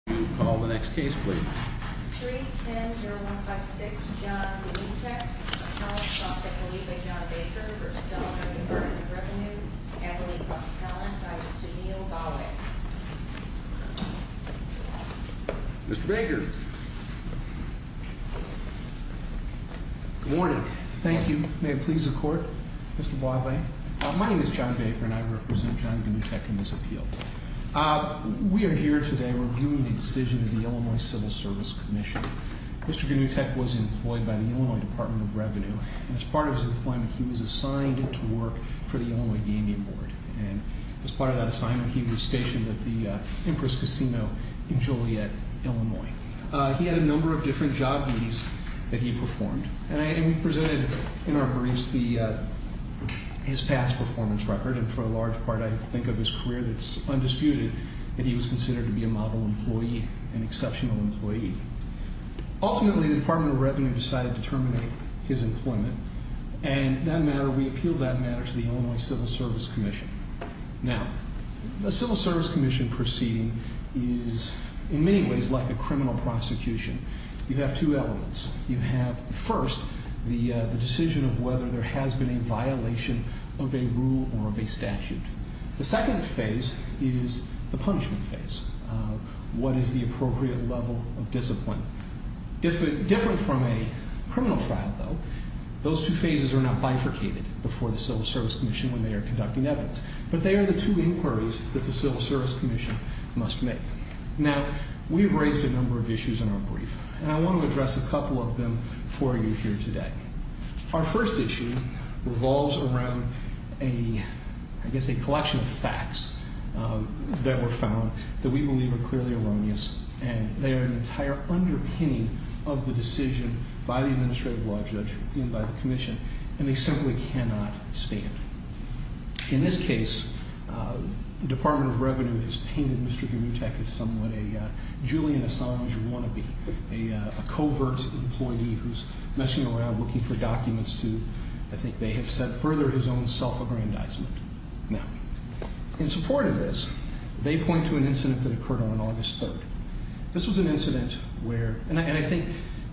310-0156 John Gnutek v. John Baker v. Illinois Department of Revenue Acolyte plus account by Mr. Neal Bawe Mr. Baker Good morning. Thank you. May it please the court, Mr. Bawe. My name is John Baker and I represent John Gnutek in this appeal. We are here today reviewing the decision of the Illinois Civil Service Commission. Mr. Gnutek was employed by the Illinois Department of Revenue. As part of his employment, he was assigned to work for the Illinois Gaming Board. As part of that assignment, he was stationed at the Empress Casino in Joliet, Illinois. He had a number of different job duties that he performed. We presented in our briefs his past performance record. For a large part, I think of his career that is undisputed. He was considered to be a model employee, an exceptional employee. Ultimately, the Department of Revenue decided to terminate his employment. We appealed that matter to the Illinois Civil Service Commission. The Civil Service Commission proceeding is, in many ways, like a criminal prosecution. You have two elements. First, the decision of whether there has been a violation of a rule or of a statute. The second phase is the punishment phase. What is the appropriate level of discipline? Different from a criminal trial, though, those two phases are not bifurcated before the Civil Service Commission when they are conducting evidence. But they are the two inquiries that the Civil Service Commission must make. Now, we've raised a number of issues in our brief. I want to address a couple of them for you here today. Our first issue revolves around, I guess, a collection of facts that were found that we believe are clearly erroneous. They are an entire underpinning of the decision by the Administrative Law Judge and by the Commission, and they simply cannot stand. In this case, the Department of Revenue has painted Mr. Gurutech as somewhat a Julian Assange wannabe, a covert employee who's messing around looking for documents to, I think they have said, further his own self-aggrandizement. Now, in support of this, they point to an incident that occurred on August 3rd. This was an incident where, and I think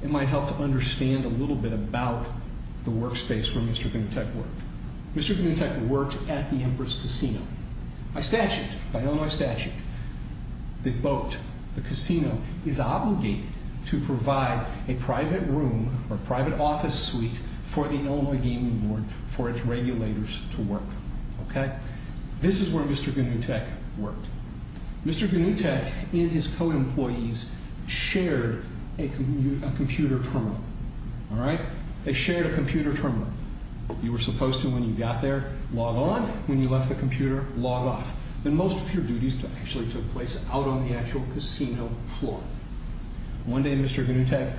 it might help to understand a little bit about the workspace where Mr. Gurutech worked. Mr. Gurutech worked at the Empress Casino. By statute, by Illinois statute, the boat, the casino, is obligated to provide a private room or private office suite for the Illinois Gaming Board for its regulators to work. This is where Mr. Gurutech worked. Mr. Gurutech and his co-employees shared a computer terminal. They shared a computer terminal. You were supposed to, when you got there, log on. When you left the computer, log off. And most of your duties actually took place out on the actual casino floor. One day, Mr. Gurutech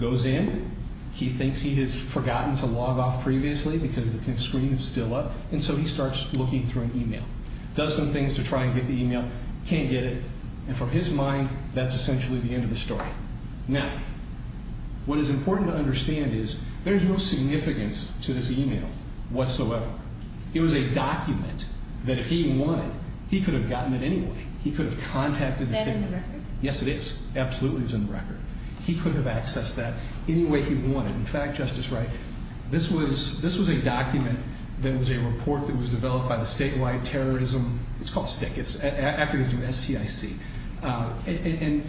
goes in. He thinks he has forgotten to log off previously because the screen is still up, and so he starts looking through an email. Does some things to try and get the email. Can't get it. And from his mind, that's essentially the end of the story. Now, what is important to understand is there's no significance to this email whatsoever. It was a document that if he wanted, he could have gotten it anyway. He could have contacted the state. Is that in the record? Yes, it is. Absolutely, it's in the record. He could have accessed that any way he wanted. In fact, Justice Wright, this was a document that was a report that was developed by the statewide terrorism, it's called STIC, it's acronyms STIC. And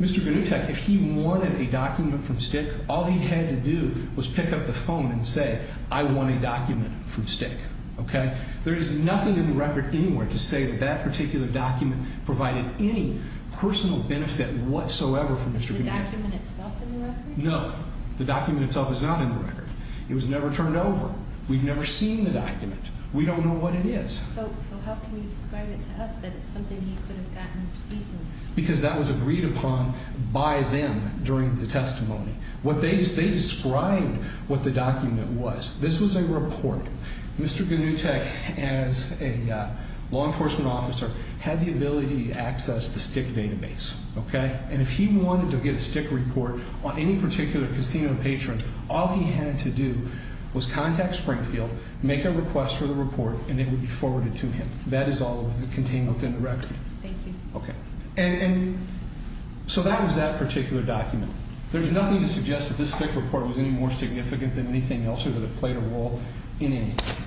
Mr. Gurutech, if he wanted a document from STIC, all he had to do was pick up the phone and say, I want a document from STIC. Okay? There is nothing in the record anywhere to say that that particular document provided any personal benefit whatsoever for Mr. Gurutech. Is the document itself in the record? No. The document itself is not in the record. It was never turned over. We've never seen the document. We don't know what it is. So how can you describe it to us that it's something he could have gotten easily? Because that was agreed upon by them during the testimony. They described what the document was. This was a report. Mr. Gurutech, as a law enforcement officer, had the ability to access the STIC database. And if he wanted to get a STIC report on any particular casino patron, all he had to do was contact Springfield, make a request for the report, and it would be forwarded to him. That is all contained within the record. Thank you. Okay. And so that was that particular document. There's nothing to suggest that this STIC report was any more significant than anything else or that it played a role in anything.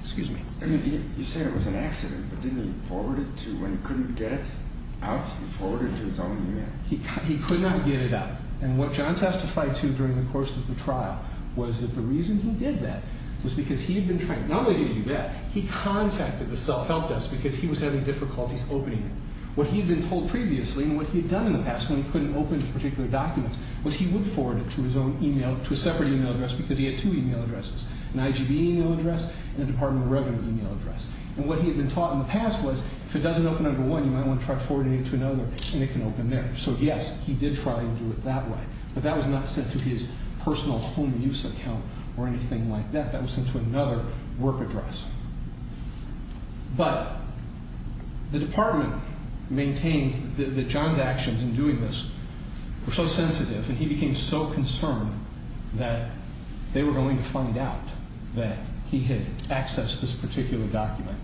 Excuse me. You said it was an accident, but didn't he forward it to when he couldn't get it out? He forwarded it to his own unit. He could not get it out. And what John testified to during the course of the trial was that the reason he did that was because he had been trying. Not only did he do that, he contacted the self-help desk because he was having difficulties opening it. What he had been told previously and what he had done in the past when he couldn't open particular documents was he would forward it to his own e-mail, to a separate e-mail address, because he had two e-mail addresses, an IGB e-mail address and a Department of Revenue e-mail address. And what he had been taught in the past was if it doesn't open under one, you might want to try forwarding it to another, and it can open there. So, yes, he did try and do it that way. But that was not sent to his personal home use account or anything like that. That was sent to another work address. But the Department maintains that John's actions in doing this were so sensitive and he became so concerned that they were going to find out that he had accessed this particular document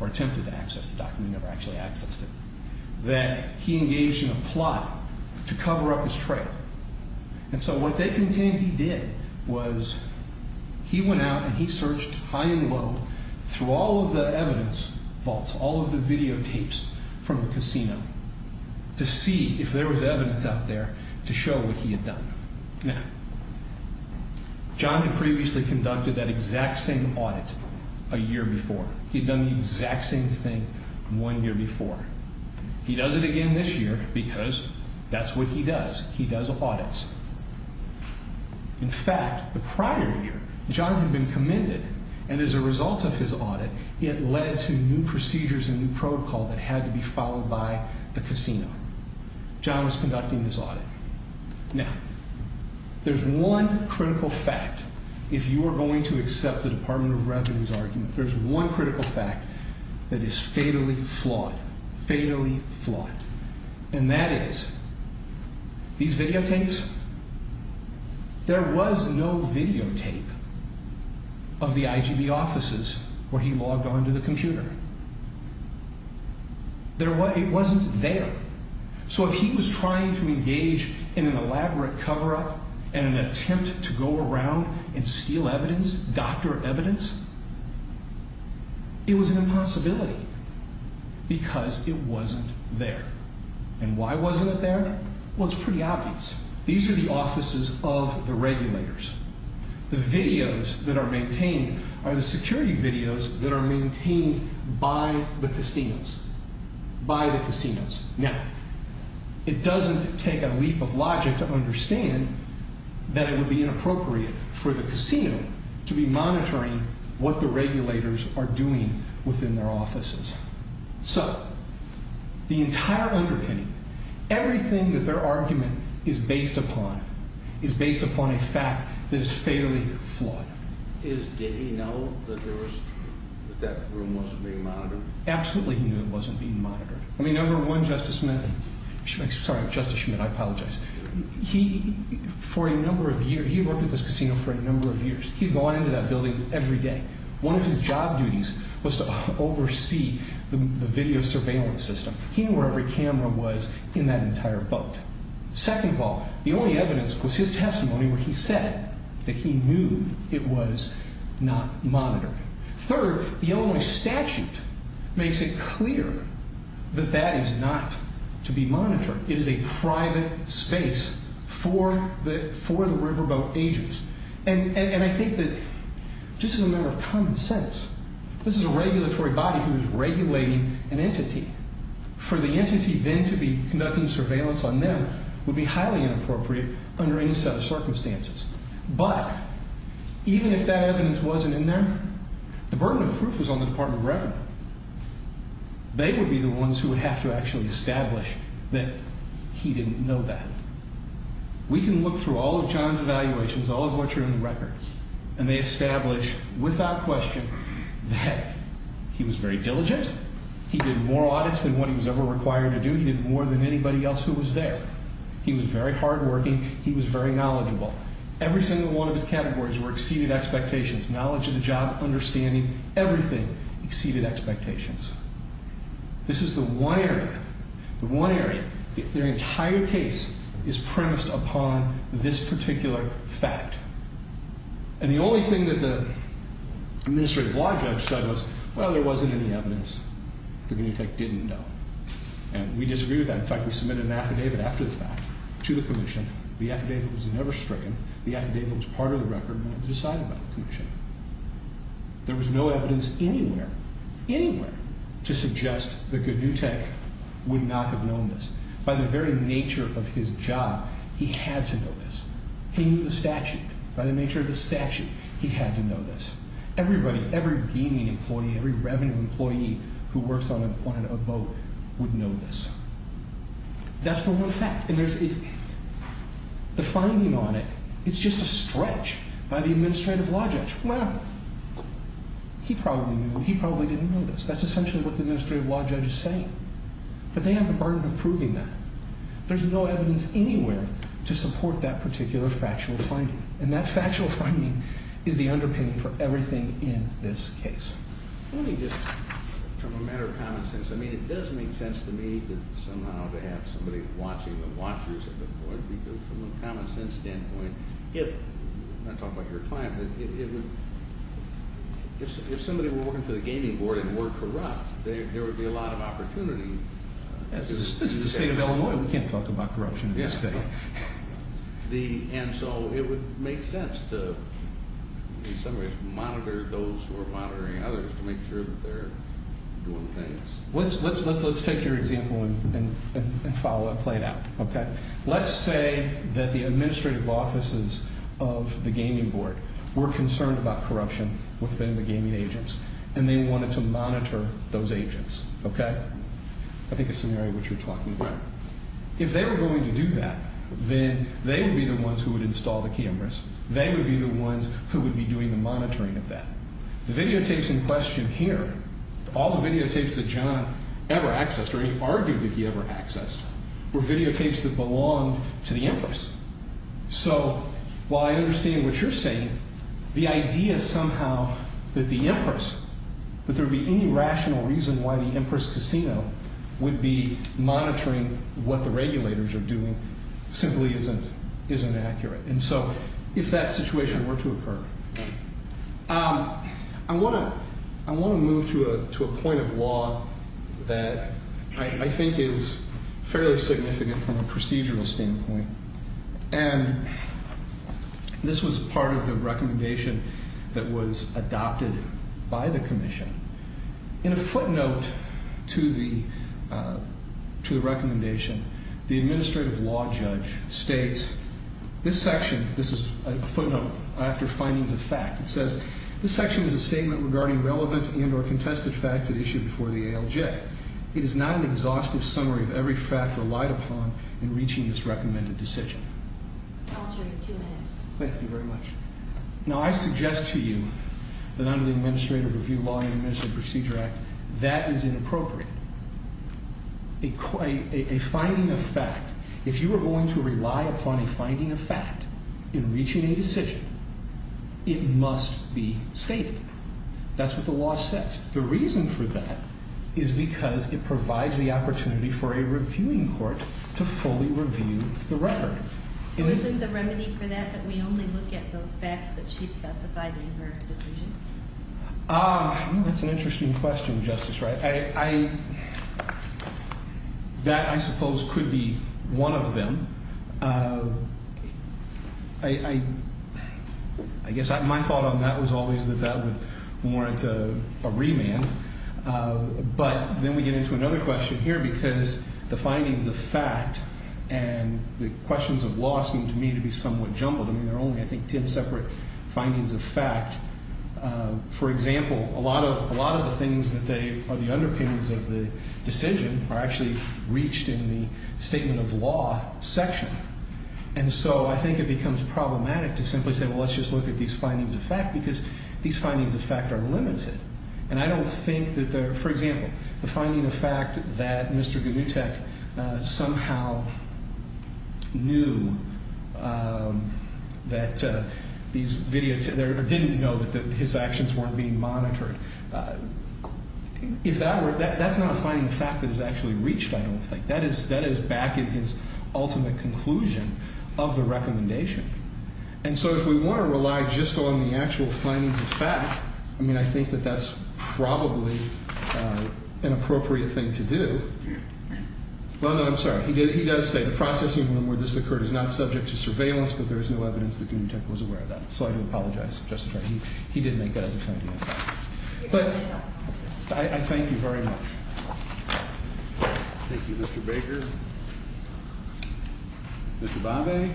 or attempted to access the document and never actually accessed it, that he engaged in a plot to cover up his trail. And so what they continued to do was he went out and he searched high and low through all of the evidence vaults, all of the videotapes from the casino, to see if there was evidence out there to show what he had done. Now, John had previously conducted that exact same audit a year before. He had done the exact same thing one year before. He does it again this year because that's what he does. He does audits. In fact, the prior year, John had been commended, and as a result of his audit, it led to new procedures and new protocol that had to be followed by the casino. John was conducting this audit. Now, there's one critical fact, if you are going to accept the Department of Revenue's argument. There's one critical fact that is fatally flawed, fatally flawed, and that is these videotapes, there was no videotape of the IGB offices where he logged onto the computer. It wasn't there. So if he was trying to engage in an elaborate cover-up and an attempt to go around and steal evidence, doctor evidence, it was an impossibility because it wasn't there. And why wasn't it there? Well, it's pretty obvious. These are the offices of the regulators. The videos that are maintained are the security videos that are maintained by the casinos, by the casinos. Now, it doesn't take a leap of logic to understand that it would be inappropriate for the casino to be monitoring what the regulators are doing within their offices. So the entire underpinning, everything that their argument is based upon, is based upon a fact that is fatally flawed. Did he know that that room wasn't being monitored? Absolutely he knew it wasn't being monitored. I mean, number one, Justice Schmidt, I apologize, he worked at this casino for a number of years. He had gone into that building every day. One of his job duties was to oversee the video surveillance system. He knew where every camera was in that entire boat. Second of all, the only evidence was his testimony where he said that he knew it was not monitored. Third, the Illinois statute makes it clear that that is not to be monitored. It is a private space for the riverboat agents. And I think that just as a matter of common sense, this is a regulatory body who is regulating an entity. For the entity then to be conducting surveillance on them would be highly inappropriate under any set of circumstances. But even if that evidence wasn't in there, the burden of proof was on the Department of Revenue. They would be the ones who would have to actually establish that he didn't know that. We can look through all of John's evaluations, all of what's in the records, and they establish without question that he was very diligent. He did more audits than what he was ever required to do. He did more than anybody else who was there. He was very hardworking. He was very knowledgeable. Every single one of his categories were exceeded expectations. Knowledge of the job, understanding, everything exceeded expectations. This is the one area, the one area, their entire case is premised upon this particular fact. And the only thing that the administrative law judge said was, well, there wasn't any evidence. The detective didn't know. And we disagreed with that. In fact, we submitted an affidavit after the fact to the commission. The affidavit was never stricken. The affidavit was part of the record, and it was decided by the commission. There was no evidence anywhere, anywhere, to suggest that Goodnew Tech would not have known this. By the very nature of his job, he had to know this. He knew the statute. By the nature of the statute, he had to know this. Everybody, every gaming employee, every revenue employee who works on a boat would know this. That's the one fact. And the finding on it, it's just a stretch by the administrative law judge. Well, he probably knew. He probably didn't know this. That's essentially what the administrative law judge is saying. But they have the burden of proving that. There's no evidence anywhere to support that particular factual finding. And that factual finding is the underpinning for everything in this case. Let me just, from a matter of common sense, I mean it does make sense to me to somehow to have somebody watching the watchers of the court because from a common sense standpoint, if, I'm not talking about your client, but if somebody were working for the gaming board and were corrupt, there would be a lot of opportunity. This is the state of Illinois. We can't talk about corruption in this state. And so it would make sense to in some ways monitor those who are monitoring others to make sure that they're doing things. Let's take your example and follow it, play it out. Let's say that the administrative offices of the gaming board were concerned about corruption within the gaming agents and they wanted to monitor those agents. I think it's a scenario which you're talking about. If they were going to do that, then they would be the ones who would install the cameras. They would be the ones who would be doing the monitoring of that. The videotapes in question here, all the videotapes that John ever accessed, or he argued that he ever accessed, were videotapes that belonged to the Empress. So while I understand what you're saying, the idea somehow that the Empress, that there would be any rational reason why the Empress Casino would be monitoring what the regulators are doing simply isn't accurate. And so if that situation were to occur. I want to move to a point of law that I think is fairly significant from a procedural standpoint. And this was part of the recommendation that was adopted by the commission. In a footnote to the recommendation, the administrative law judge states, this section, this is a footnote after findings of fact, it says, this section is a statement regarding relevant and or contested facts that issued before the ALJ. It is not an exhaustive summary of every fact relied upon in reaching this recommended decision. I'll show you two minutes. Thank you very much. Now I suggest to you that under the Administrative Review Law and Administrative Procedure Act, that is inappropriate. A finding of fact, if you are going to rely upon a finding of fact in reaching a decision, it must be stated. That's what the law says. The reason for that is because it provides the opportunity for a reviewing court to fully review the record. Isn't the remedy for that that we only look at those facts that she specified in her decision? That's an interesting question, Justice Wright. That, I suppose, could be one of them. I guess my thought on that was always that that would warrant a remand. But then we get into another question here because the findings of fact and the questions of law seem to me to be somewhat jumbled. I mean, there are only, I think, ten separate findings of fact. For example, a lot of the things that are the underpinnings of the decision are actually reached in the statement of law section. And so I think it becomes problematic to simply say, well, let's just look at these findings of fact because these findings of fact are limited. And I don't think that, for example, the finding of fact that Mr. Gnutek somehow knew that these videos, or didn't know that his actions weren't being monitored, if that were, that's not a finding of fact that is actually reached, I don't think. That is back in his ultimate conclusion of the recommendation. And so if we want to rely just on the actual findings of fact, I mean, I think that that's probably an appropriate thing to do. Well, no, I'm sorry. He does say the processing room where this occurred is not subject to surveillance, but there is no evidence that Gnutek was aware of that. So I do apologize, Justice Wright. He did make that as a finding of fact. But I thank you very much. Thank you, Mr. Baker. Mr. Bombay.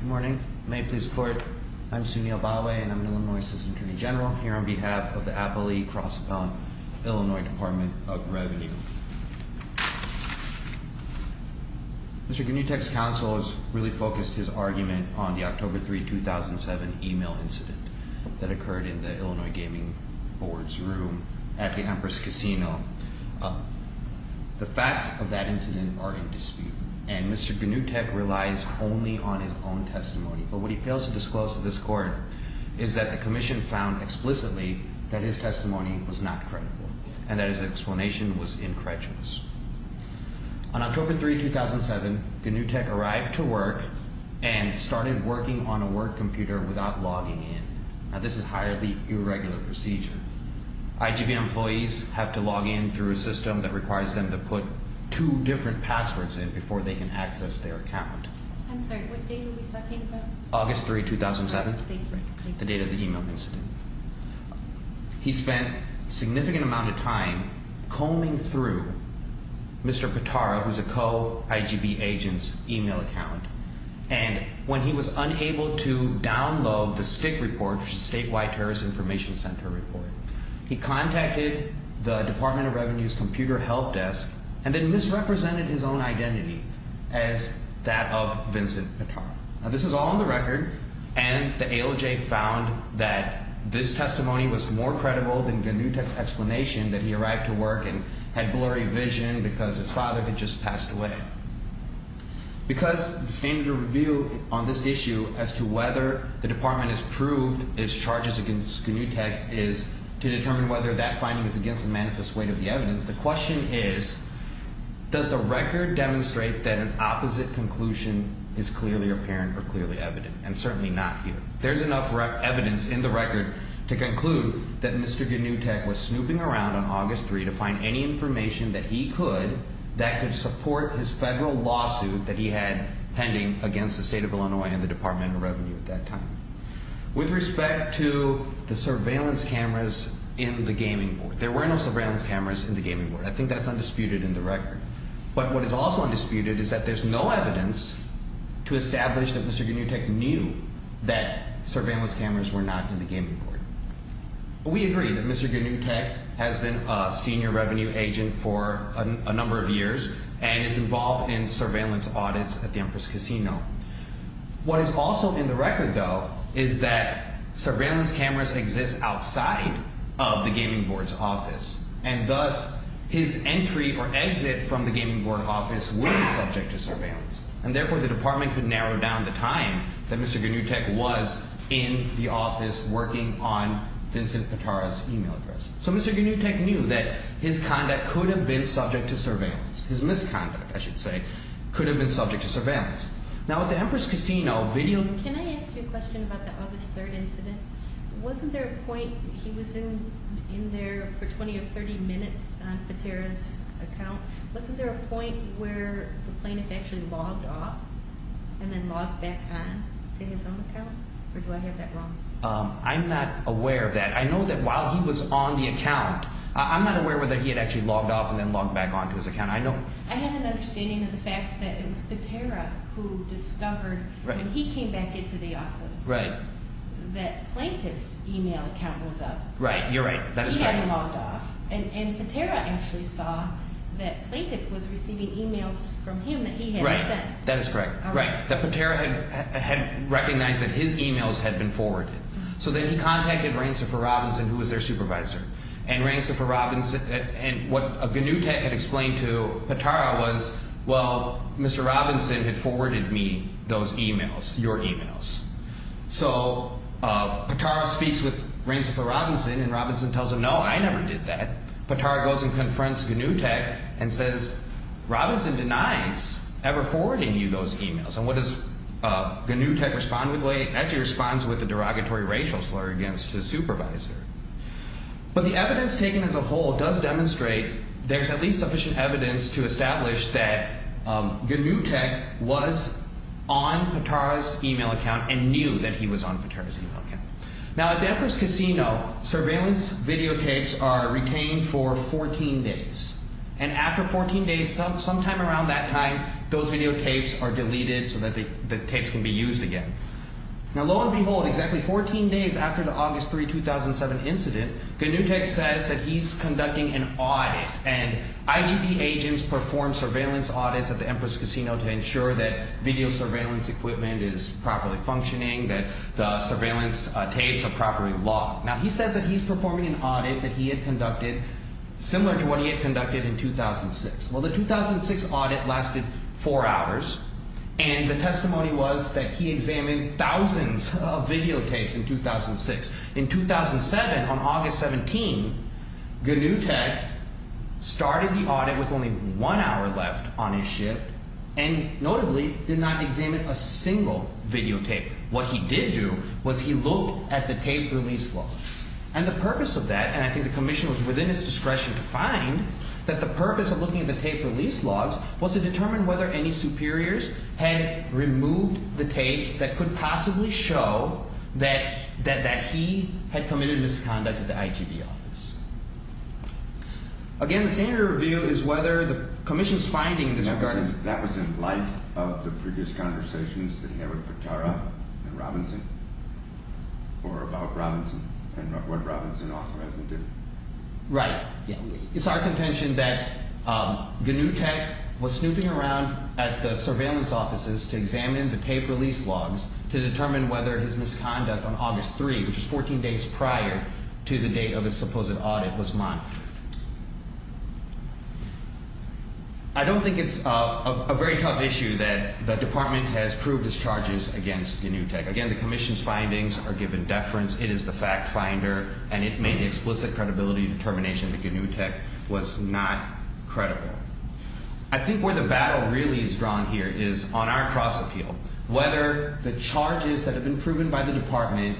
Good morning. May it please the Court. I'm Sunil Baway, and I'm an Illinois Assistant Attorney General here on behalf of the Appalachian Cross-Bound Illinois Department of Revenue. Mr. Gnutek's counsel has really focused his argument on the October 3, 2007, email incident that occurred in the Illinois Gaming Board's room at the Empress Casino. The facts of that incident are in dispute, and Mr. Gnutek relies only on his own testimony. But what he fails to disclose to this Court is that the commission found explicitly that his testimony was not credible and that his explanation was incorrectious. On October 3, 2007, Gnutek arrived to work and started working on a work computer without logging in. Now, this is highly irregular procedure. IGB employees have to log in through a system that requires them to put two different passwords in before they can access their account. I'm sorry, what date are we talking about? August 3, 2007, the date of the email incident. He spent a significant amount of time combing through Mr. Pitara, who's a co-IGB agent's email account. And when he was unable to download the STIC report, which is the Statewide Terrorist Information Center report, he contacted the Department of Revenue's computer help desk and then misrepresented his own identity as that of Vincent Pitara. Now, this is all on the record, and the ALJ found that this testimony was more credible than Gnutek's explanation that he arrived to work and had blurry vision because his father had just passed away. Because the standard of review on this issue as to whether the department has proved its charges against Gnutek is to determine whether that finding is against the manifest weight of the evidence, the question is, does the record demonstrate that an opposite conclusion is clearly apparent or clearly evident? And certainly not here. There's enough evidence in the record to conclude that Mr. Gnutek was snooping around on August 3 to find any information that he could, that could support his federal lawsuit that he had pending against the State of Illinois and the Department of Revenue at that time. With respect to the surveillance cameras in the gaming board, there were no surveillance cameras in the gaming board. I think that's undisputed in the record. But what is also undisputed is that there's no evidence to establish that Mr. Gnutek knew that surveillance cameras were not in the gaming board. We agree that Mr. Gnutek has been a senior revenue agent for a number of years and is involved in surveillance audits at the Empress Casino. What is also in the record, though, is that surveillance cameras exist outside of the gaming board's office. And thus, his entry or exit from the gaming board office was subject to surveillance. And therefore, the department could narrow down the time that Mr. Gnutek was in the office working on Vincent Potara's email address. So Mr. Gnutek knew that his conduct could have been subject to surveillance. His misconduct, I should say, could have been subject to surveillance. Now, at the Empress Casino, video— Can I ask you a question about the August 3rd incident? Wasn't there a point he was in there for 20 or 30 minutes on Potara's account? Wasn't there a point where the plaintiff actually logged off and then logged back on to his own account? Or do I have that wrong? I'm not aware of that. I know that while he was on the account, I'm not aware whether he had actually logged off and then logged back on to his account. I had an understanding of the facts that it was Potara who discovered when he came back into the office that the plaintiff's email account was up. Right. You're right. That is correct. He hadn't logged off. And Potara actually saw that the plaintiff was receiving emails from him that he hadn't sent. Right. That is correct. That Potara had recognized that his emails had been forwarded. So then he contacted Ransom for Robinson, who was their supervisor. And what Ganutech had explained to Potara was, well, Mr. Robinson had forwarded me those emails, your emails. So Potara speaks with Ransom for Robinson, and Robinson tells him, no, I never did that. Potara goes and confronts Ganutech and says, Robinson denies ever forwarding you those emails. And what does Ganutech respond with? He actually responds with a derogatory racial slur against his supervisor. But the evidence taken as a whole does demonstrate there's at least sufficient evidence to establish that Ganutech was on Potara's email account and knew that he was on Potara's email account. Now, at the Empress Casino, surveillance videotapes are retained for 14 days. And after 14 days, sometime around that time, those videotapes are deleted so that the tapes can be used again. Now, lo and behold, exactly 14 days after the August 3, 2007 incident, Ganutech says that he's conducting an audit. And IGP agents perform surveillance audits at the Empress Casino to ensure that video surveillance equipment is properly functioning, that the surveillance tapes are properly locked. Now, he says that he's performing an audit that he had conducted similar to what he had conducted in 2006. Well, the 2006 audit lasted four hours, and the testimony was that he examined thousands of videotapes in 2006. In 2007, on August 17, Ganutech started the audit with only one hour left on his shift and notably did not examine a single videotape. What he did do was he looked at the tape release logs. And the purpose of that, and I think the Commission was within its discretion to find, that the purpose of looking at the tape release logs was to determine whether any superiors had removed the tapes that could possibly show that he had committed misconduct at the IGP office. Again, the standard of review is whether the Commission's finding in this regard is... That was in light of the previous conversations that he had with Petara and Robinson, or about Robinson and what Robinson authorized him to do. Right. It's our contention that Ganutech was snooping around at the surveillance offices to examine the tape release logs to determine whether his misconduct on August 3, which is 14 days prior to the date of his supposed audit, was monitored. I don't think it's a very tough issue that the Department has proved its charges against Ganutech. Again, the Commission's findings are given deference. It is the fact finder, and it made the explicit credibility determination that Ganutech was not credible. I think where the battle really is drawn here is on our cross appeal, whether the charges that have been proven by the Department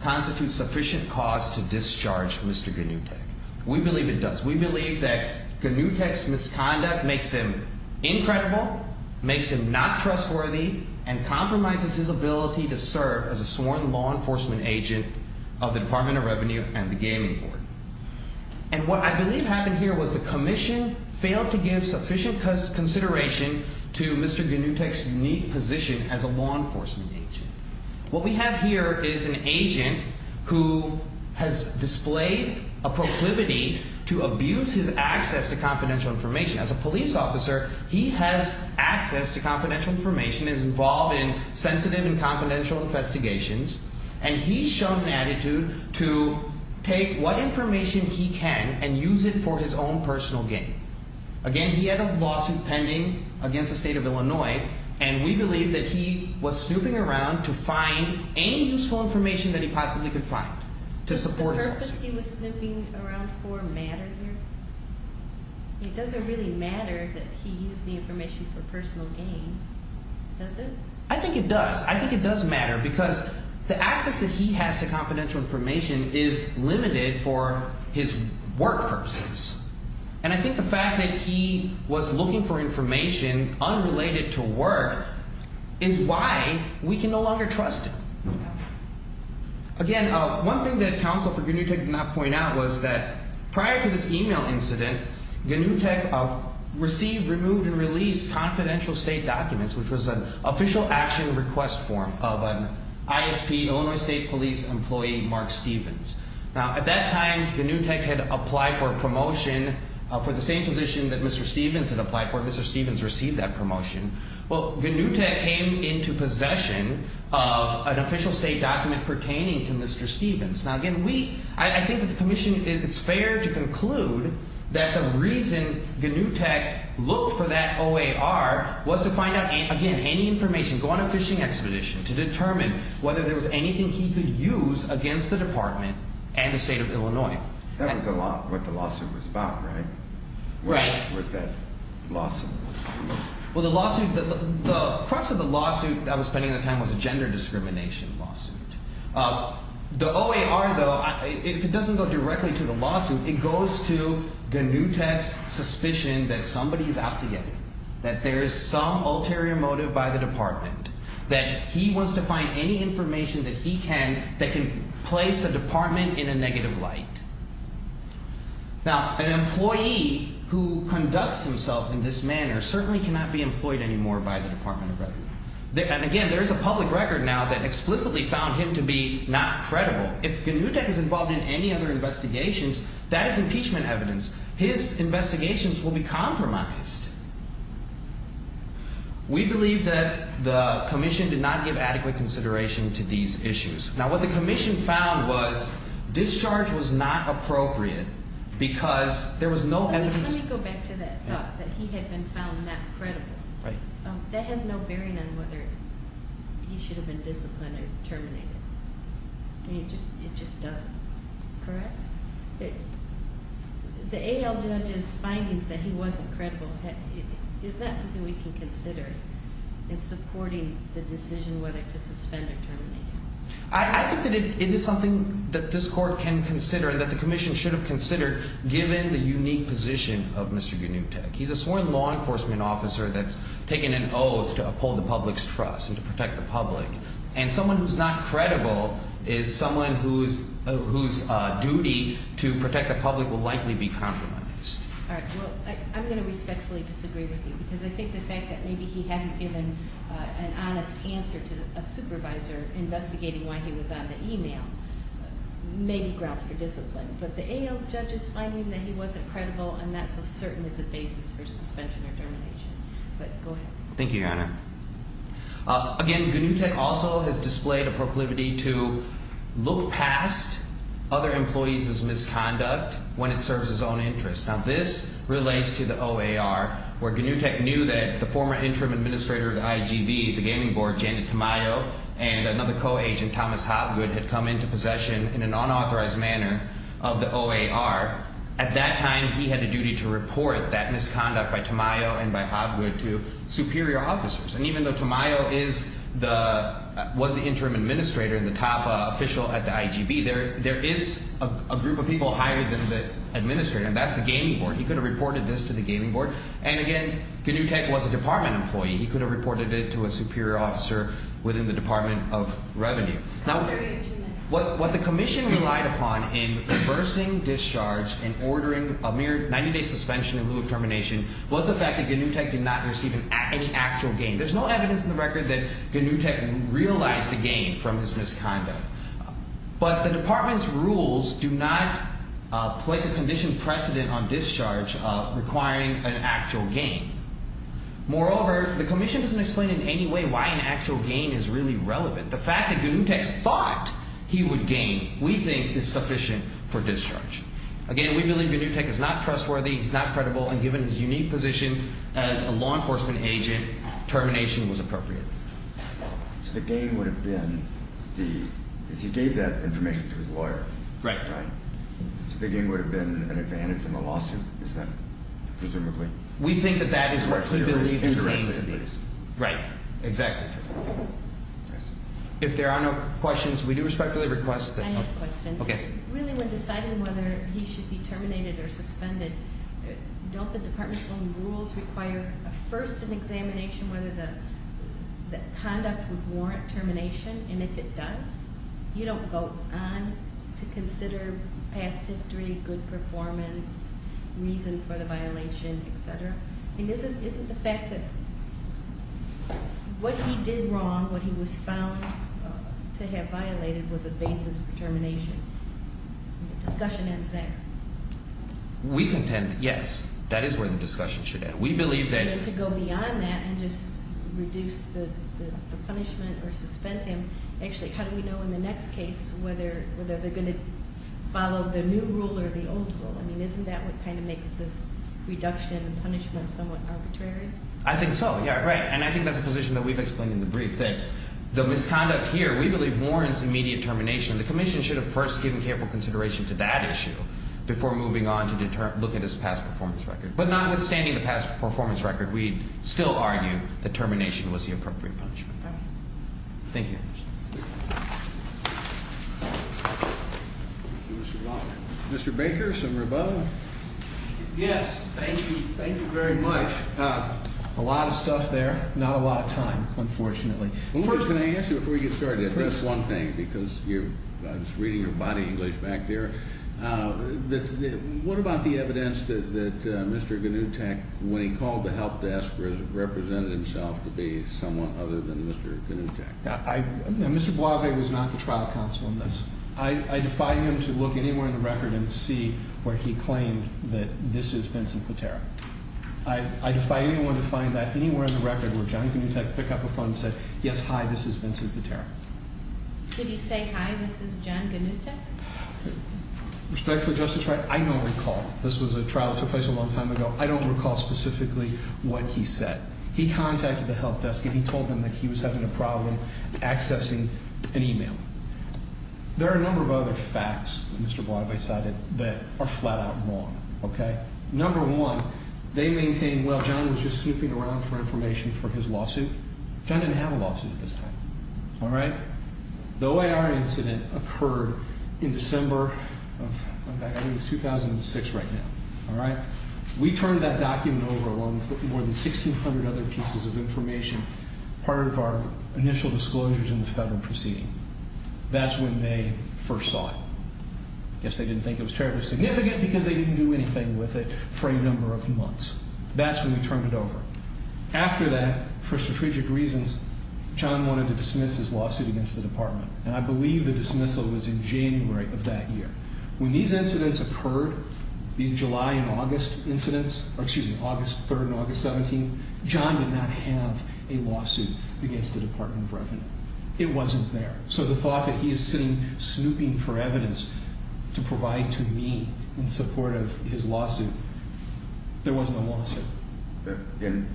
constitute sufficient cause to discharge Mr. Ganutech. We believe it does. We believe that Ganutech's misconduct makes him incredible, makes him not trustworthy, and compromises his ability to serve as a sworn law enforcement agent of the Department of Revenue and the Gaming Board. And what I believe happened here was the Commission failed to give sufficient consideration to Mr. Ganutech's unique position as a law enforcement agent. What we have here is an agent who has displayed a proclivity to abuse his access to confidential information. As a police officer, he has access to confidential information, is involved in sensitive and confidential investigations, and he's shown an attitude to take what information he can and use it for his own personal gain. Again, he had a lawsuit pending against the state of Illinois, and we believe that he was snooping around to find any useful information that he possibly could find to support his lawsuit. Does the purpose he was snooping around for matter here? It doesn't really matter that he used the information for personal gain, does it? I think it does. I think it does matter because the access that he has to confidential information is limited for his work purposes. And I think the fact that he was looking for information unrelated to work is why we can no longer trust him. Again, one thing that counsel for Ganutech did not point out was that prior to this email incident, Ganutech received, removed, and released confidential state documents, which was an official action request form of an ISP, Illinois State Police employee, Mark Stevens. Now, at that time, Ganutech had applied for a promotion for the same position that Mr. Stevens had applied for. Mr. Stevens received that promotion. Well, Ganutech came into possession of an official state document pertaining to Mr. Stevens. Now, again, I think that the commission, it's fair to conclude that the reason Ganutech looked for that OAR was to find out, again, any information, go on a fishing expedition to determine whether there was anything he could use against the department and the state of Illinois. That was what the lawsuit was about, right? Right. What was that lawsuit? Well, the lawsuit, the crux of the lawsuit that was pending at the time was a gender discrimination lawsuit. The OAR, though, if it doesn't go directly to the lawsuit, it goes to Ganutech's suspicion that somebody is out to get him, that there is some ulterior motive by the department, that he wants to find any information that he can that can place the department in a negative light. Now, an employee who conducts himself in this manner certainly cannot be employed anymore by the Department of Revenue. And, again, there is a public record now that explicitly found him to be not credible. If Ganutech is involved in any other investigations, that is impeachment evidence. His investigations will be compromised. We believe that the commission did not give adequate consideration to these issues. Now, what the commission found was discharge was not appropriate because there was no evidence. Let me go back to that thought, that he had been found not credible. Right. That has no bearing on whether he should have been disciplined or terminated. I mean, it just doesn't. Correct? The AL judge's findings that he wasn't credible, is that something we can consider in supporting the decision whether to suspend or terminate him? I think that it is something that this court can consider and that the commission should have considered given the unique position of Mr. Ganutech. He's a sworn law enforcement officer that's taken an oath to uphold the public's trust and to protect the public. And someone who's not credible is someone whose duty to protect the public will likely be compromised. All right. Well, I'm going to respectfully disagree with you because I think the fact that maybe he hadn't given an honest answer to a supervisor investigating why he was on the e-mail may be grounds for discipline. But the AL judge's finding that he wasn't credible and not so certain is a basis for suspension or termination. But go ahead. Thank you, Your Honor. Again, Ganutech also has displayed a proclivity to look past other employees' misconduct when it serves his own interests. Now, this relates to the OAR, where Ganutech knew that the former interim administrator of the IGB, the gaming board, Janet Tamayo, and another co-agent, Thomas Hobgood, had come into possession in an unauthorized manner of the OAR. At that time, he had a duty to report that misconduct by Tamayo and by Hobgood to superior officers. And even though Tamayo is the – was the interim administrator and the top official at the IGB, there is a group of people higher than the administrator, and that's the gaming board. He could have reported this to the gaming board. And again, Ganutech was a department employee. He could have reported it to a superior officer within the Department of Revenue. Now, what the commission relied upon in reversing discharge and ordering a mere 90-day suspension in lieu of termination was the fact that Ganutech did not receive any actual gain. There's no evidence in the record that Ganutech realized a gain from his misconduct. But the department's rules do not place a condition precedent on discharge requiring an actual gain. Moreover, the commission doesn't explain in any way why an actual gain is really relevant. The fact that Ganutech thought he would gain, we think, is sufficient for discharge. Again, we believe Ganutech is not trustworthy, he's not credible, and given his unique position as a law enforcement agent, termination was appropriate. So the gain would have been the – is he gave that information to his lawyer? Right. Right. So the gain would have been an advantage in the lawsuit? Is that presumably? We think that that is what we believe the gain to be. Indirectly, at least. Right. Exactly. If there are no questions, we do respectfully request that- I have a question. Okay. Really, when deciding whether he should be terminated or suspended, don't the department's own rules require first an examination whether the conduct would warrant termination? And if it does, you don't go on to consider past history, good performance, reason for the violation, et cetera? I mean, isn't the fact that what he did wrong, what he was found to have violated, was a basis for termination? Discussion ends there. We contend, yes, that is where the discussion should end. We believe that- And to go beyond that and just reduce the punishment or suspend him, actually, how do we know in the next case whether they're going to follow the new rule or the old rule? I mean, isn't that what kind of makes this reduction in the punishment somewhat arbitrary? I think so. Yeah, right. And I think that's a position that we've explained in the brief, that the misconduct here, we believe warrants immediate termination. The commission should have first given careful consideration to that issue before moving on to look at his past performance record. But notwithstanding the past performance record, we still argue that termination was the appropriate punishment. Okay. Thank you. Mr. Walker. Mr. Baker, some rebuttal? Yes. Thank you. Thank you very much. A lot of stuff there. Not a lot of time, unfortunately. First, can I ask you, before you get started, just one thing, because I was reading your body English back there. What about the evidence that Mr. Gnutek, when he called the help desk, represented himself to be someone other than Mr. Gnutek? Mr. Blavey was not the trial counsel in this. I defy him to look anywhere in the record and see where he claimed that this is Vincent Patera. I defy anyone to find that anywhere in the record where John Gnutek picked up the phone and said, yes, hi, this is Vincent Patera. Did he say, hi, this is John Gnutek? Respectfully, Justice Wright, I don't recall. This was a trial that took place a long time ago. I don't recall specifically what he said. He contacted the help desk and he told them that he was having a problem accessing an email. There are a number of other facts that Mr. Blavey cited that are flat out wrong. Okay? Number one, they maintain, well, John was just snooping around for information for his lawsuit. John didn't have a lawsuit at this time. All right? The OIR incident occurred in December of 2006 right now. All right? We turned that document over along with more than 1,600 other pieces of information, part of our initial disclosures in the federal proceeding. That's when they first saw it. I guess they didn't think it was terribly significant because they didn't do anything with it for a number of months. That's when we turned it over. After that, for strategic reasons, John wanted to dismiss his lawsuit against the department. And I believe the dismissal was in January of that year. When these incidents occurred, these July and August incidents, or excuse me, August 3rd and August 17th, John did not have a lawsuit against the Department of Revenue. It wasn't there. So the thought that he is sitting snooping for evidence to provide to me in support of his lawsuit, there was no lawsuit. And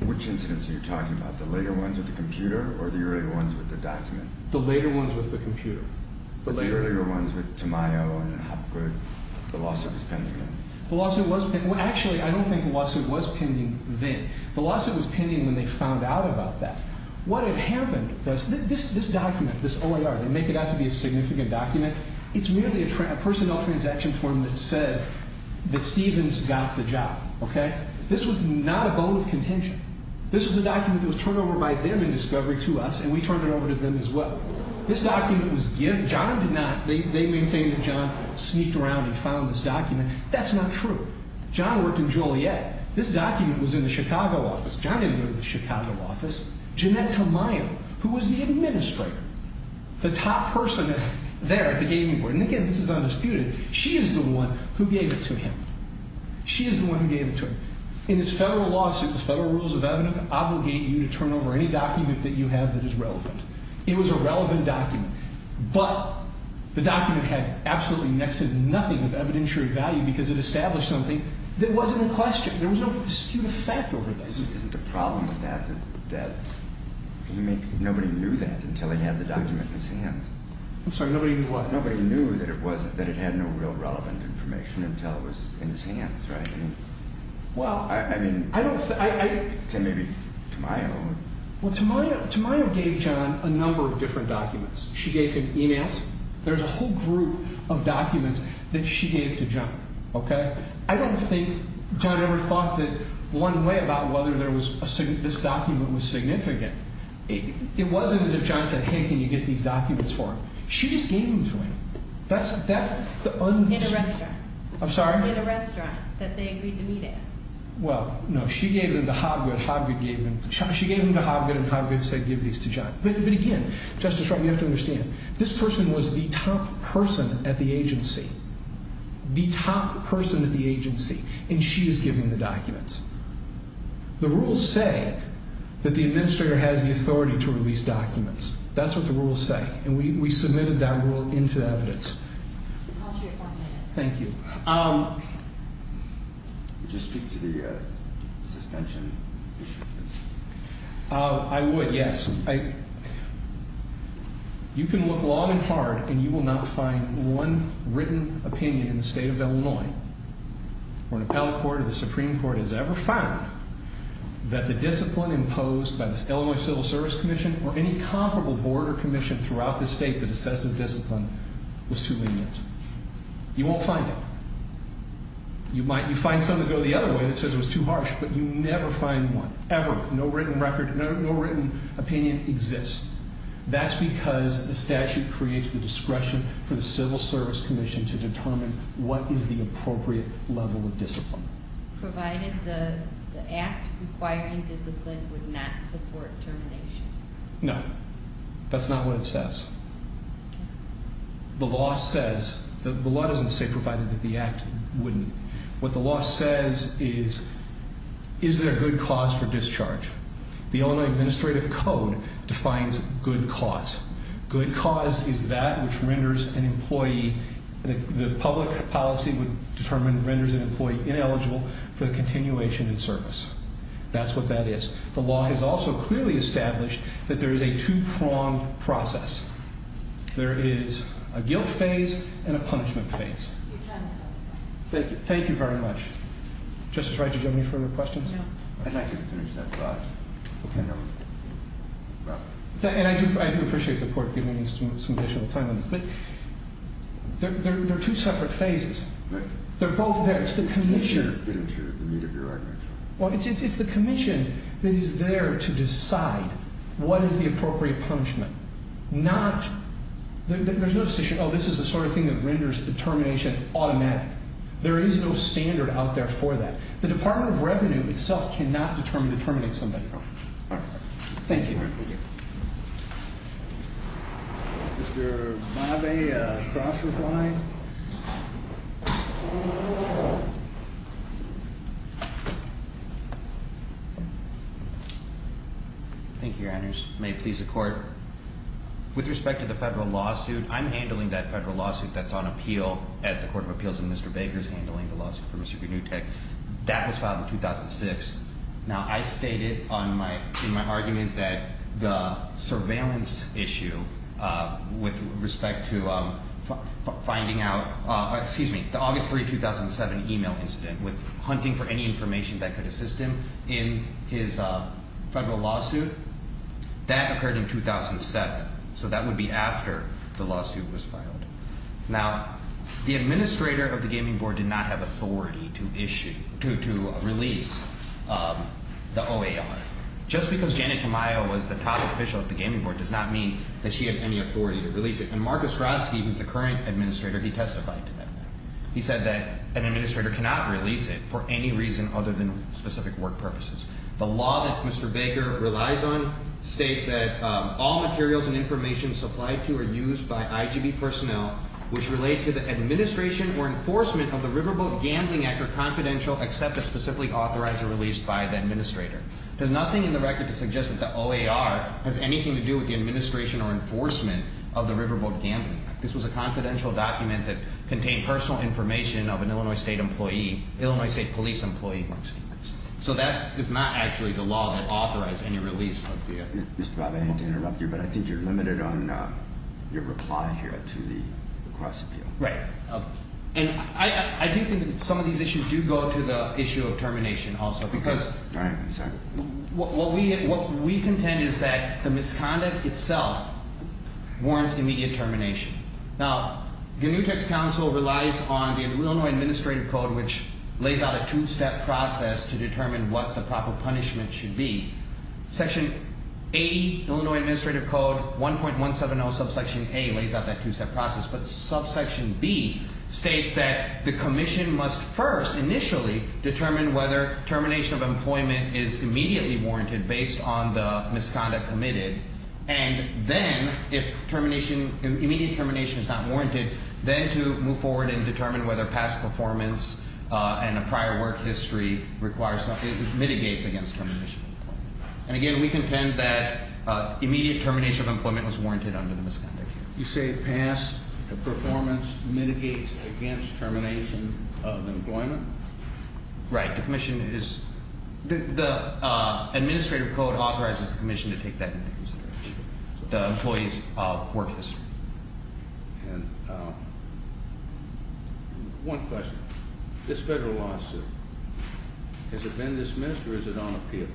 which incidents are you talking about? The later ones with the computer or the earlier ones with the document? The later ones with the computer. But the earlier ones with Tamayo and Hopgood, the lawsuit was pending then? The lawsuit was pending. Well, actually, I don't think the lawsuit was pending then. The lawsuit was pending when they found out about that. What had happened, this document, this OAR, they make it out to be a significant document. It's merely a personnel transaction form that said that Stevens got the job, okay? This was not a bone of contention. This was a document that was turned over by them in discovery to us, and we turned it over to them as well. This document was given. John did not. They maintained that John sneaked around and found this document. That's not true. John worked in Joliet. This document was in the Chicago office. John didn't go to the Chicago office. Jeanette Tamayo, who was the administrator, the top person there at the gaming board, and, again, this is undisputed, she is the one who gave it to him. She is the one who gave it to him. In this federal lawsuit, the federal rules of evidence obligate you to turn over any document that you have that is relevant. It was a relevant document. But the document had absolutely next to nothing of evidentiary value because it established something that wasn't in question. There was no dispute of fact over that. Isn't the problem with that that nobody knew that until he had the document in his hands? I'm sorry. Nobody knew what? Nobody knew that it had no real relevant information until it was in his hands, right? I mean, I don't think. Maybe Tamayo. Well, Tamayo gave John a number of different documents. She gave him e-mails. There's a whole group of documents that she gave to John, okay? I don't think John ever thought that one way about whether this document was significant. It wasn't as if John said, hey, can you get these documents for him? She just gave them to him. That's the undisputed. In a restaurant. I'm sorry? In a restaurant that they agreed to meet at. Well, no. She gave them to Hobgood. Hobgood gave them to John. She gave them to Hobgood and Hobgood said give these to John. But again, Justice, you have to understand. This person was the top person at the agency. The top person at the agency. And she is giving the documents. The rules say that the administrator has the authority to release documents. That's what the rules say. And we submitted that rule into evidence. Thank you. Would you speak to the suspension issue? I would, yes. You can look long and hard and you will not find one written opinion in the state of Illinois where an appellate court or the Supreme Court has ever found that the discipline imposed by the Illinois Civil Service Commission or any comparable board or commission throughout the state that assesses discipline was too lenient. You won't find it. You find some that go the other way that says it was too harsh. But you never find one. Ever. No written opinion exists. That's because the statute creates the discretion for the Civil Service Commission to determine what is the appropriate level of discipline. Provided the act requiring discipline would not support termination. No. That's not what it says. The law says, the law doesn't say provided that the act wouldn't. What the law says is, is there a good cause for discharge? The Illinois Administrative Code defines good cause. Good cause is that which renders an employee, the public policy would determine renders an employee ineligible for the continuation in service. That's what that is. The law has also clearly established that there is a two-pronged process. There is a guilt phase and a punishment phase. Thank you. Thank you very much. Justice Wright, did you have any further questions? No. I'd like you to finish that thought. Okay. And I do appreciate the court giving me some additional time on this. But there are two separate phases. Right. They're both there. It's the commission. The meat of your argument. Well, it's the commission that is there to decide what is the appropriate punishment. There's no decision, oh, this is the sort of thing that renders determination automatic. There is no standard out there for that. The Department of Revenue itself cannot determine to terminate somebody. All right. Thank you. Thank you. Mr. Bobbe, cross-reply? Thank you, Your Honors. May it please the Court. With respect to the federal lawsuit, I'm handling that federal lawsuit that's on appeal at the Court of Appeals, and Mr. Baker is handling the lawsuit for Mr. Gnutek. That was filed in 2006. Now, I stated in my argument that the surveillance issue with respect to finding out, excuse me, the August 3, 2007 email incident with hunting for any information that could assist him in his federal lawsuit that occurred in 2007. So that would be after the lawsuit was filed. Now, the administrator of the Gaming Board did not have authority to issue, to release the OAR. Just because Janet Tamayo was the top official at the Gaming Board does not mean that she had any authority to release it. And Marcus Grotsky, who is the current administrator, he testified to that. He said that an administrator cannot release it for any reason other than specific work purposes. The law that Mr. Baker relies on states that all materials and information supplied to or used by IGB personnel which relate to the administration or enforcement of the Riverboat Gambling Act are confidential except a specific authorizer released by the administrator. There's nothing in the record to suggest that the OAR has anything to do with the administration or enforcement of the Riverboat Gambling Act. This was a confidential document that contained personal information of an Illinois State employee, Illinois State police employee, Marcus Grotsky. So that is not actually the law that authorized any release of the OAR. Mr. Bob, I hate to interrupt you, but I think you're limited on your reply here to the cross-appeal. Right. And I do think that some of these issues do go to the issue of termination also because What we contend is that the misconduct itself warrants immediate termination. Now, the New Text Council relies on the Illinois Administrative Code which lays out a two-step process to determine what the proper punishment should be. Section 80, Illinois Administrative Code, 1.170 subsection A lays out that two-step process. But subsection B states that the commission must first initially determine whether termination of employment is immediately warranted based on the misconduct committed. And then, if immediate termination is not warranted, then to move forward and determine whether past performance and a prior work history mitigates against termination of employment. And again, we contend that immediate termination of employment was warranted under the misconduct. You say past performance mitigates against termination of employment? Right. The commission is – the Administrative Code authorizes the commission to take that into consideration. The employee's work history. And one question. This federal lawsuit, has it been dismissed or is it on appeal?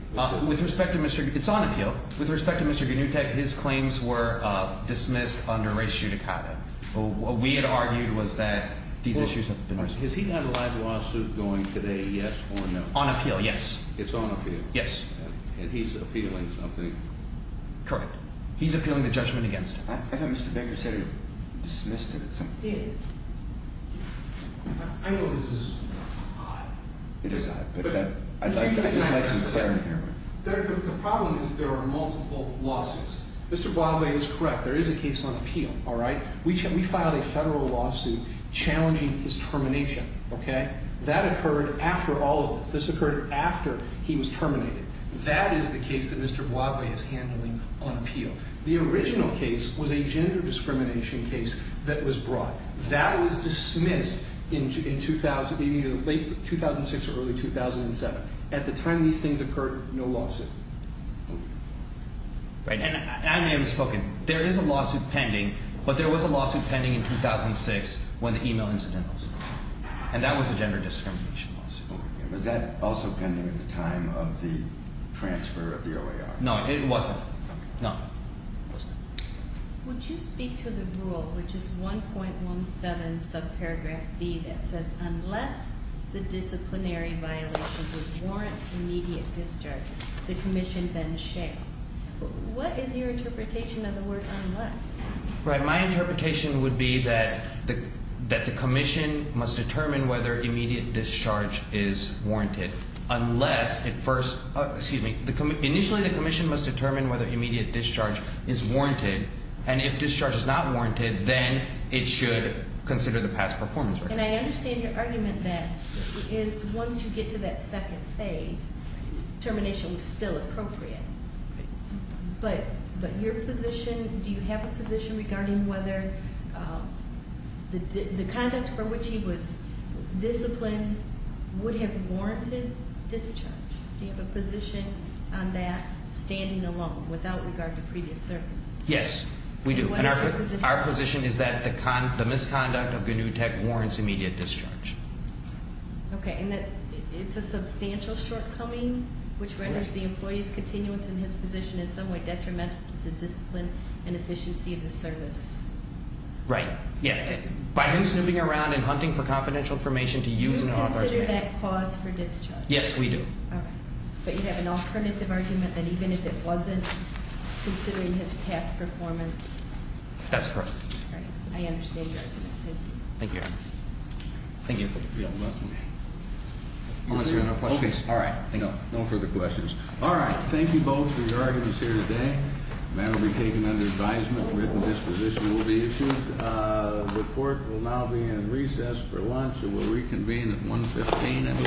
With respect to Mr. – it's on appeal. With respect to Mr. Gnutek, his claims were dismissed under race judicata. What we had argued was that these issues have been – Has he had a live lawsuit going today, yes or no? On appeal, yes. It's on appeal? Yes. And he's appealing something? Correct. He's appealing the judgment against him. I thought Mr. Baker said he dismissed it or something. He did. I know this is odd. It is odd, but I'd like some clarity here. The problem is there are multiple lawsuits. Mr. Boisville is correct. There is a case on appeal. We filed a federal lawsuit challenging his termination. That occurred after all of this. This occurred after he was terminated. That is the case that Mr. Boisville is handling on appeal. The original case was a gender discrimination case that was brought. That was dismissed in late 2006 or early 2007. At the time these things occurred, no lawsuit. I may have misspoken. There is a lawsuit pending, but there was a lawsuit pending in 2006 when the email incident occurred. And that was a gender discrimination lawsuit. Was that also pending at the time of the transfer of the OAR? No, it wasn't. Okay. No, it wasn't. Would you speak to the rule, which is 1.17 subparagraph B that says, unless the disciplinary violation would warrant immediate discharge, the commission then shall. What is your interpretation of the word unless? My interpretation would be that the commission must determine whether immediate discharge is warranted unless it first Excuse me. Initially the commission must determine whether immediate discharge is warranted. And if discharge is not warranted, then it should consider the past performance. And I understand your argument that once you get to that second phase, termination is still appropriate. But your position, do you have a position regarding whether the conduct for which he was disciplined would have warranted discharge? Do you have a position on that standing alone without regard to previous service? Yes, we do. And what is your position? Our position is that the misconduct of Gnutech warrants immediate discharge. Okay. And it's a substantial shortcoming, which renders the employee's continuance in his position in some way detrimental to the discipline and efficiency of the service. Right. Yeah. By him snooping around and hunting for confidential information to use in an authorized manner. Do you consider that cause for discharge? Yes, we do. All right. But you have an alternative argument that even if it wasn't considering his past performance? That's correct. All right. I understand your argument. Thank you. Thank you, Your Honor. Thank you. Okay. No further questions. All right. Thank you. No further questions. All right. Thank you both for your arguments here today. The matter will be taken under advisement. Written disposition will be issued. The court will now be in recess for lunch and will reconvene at 1.15.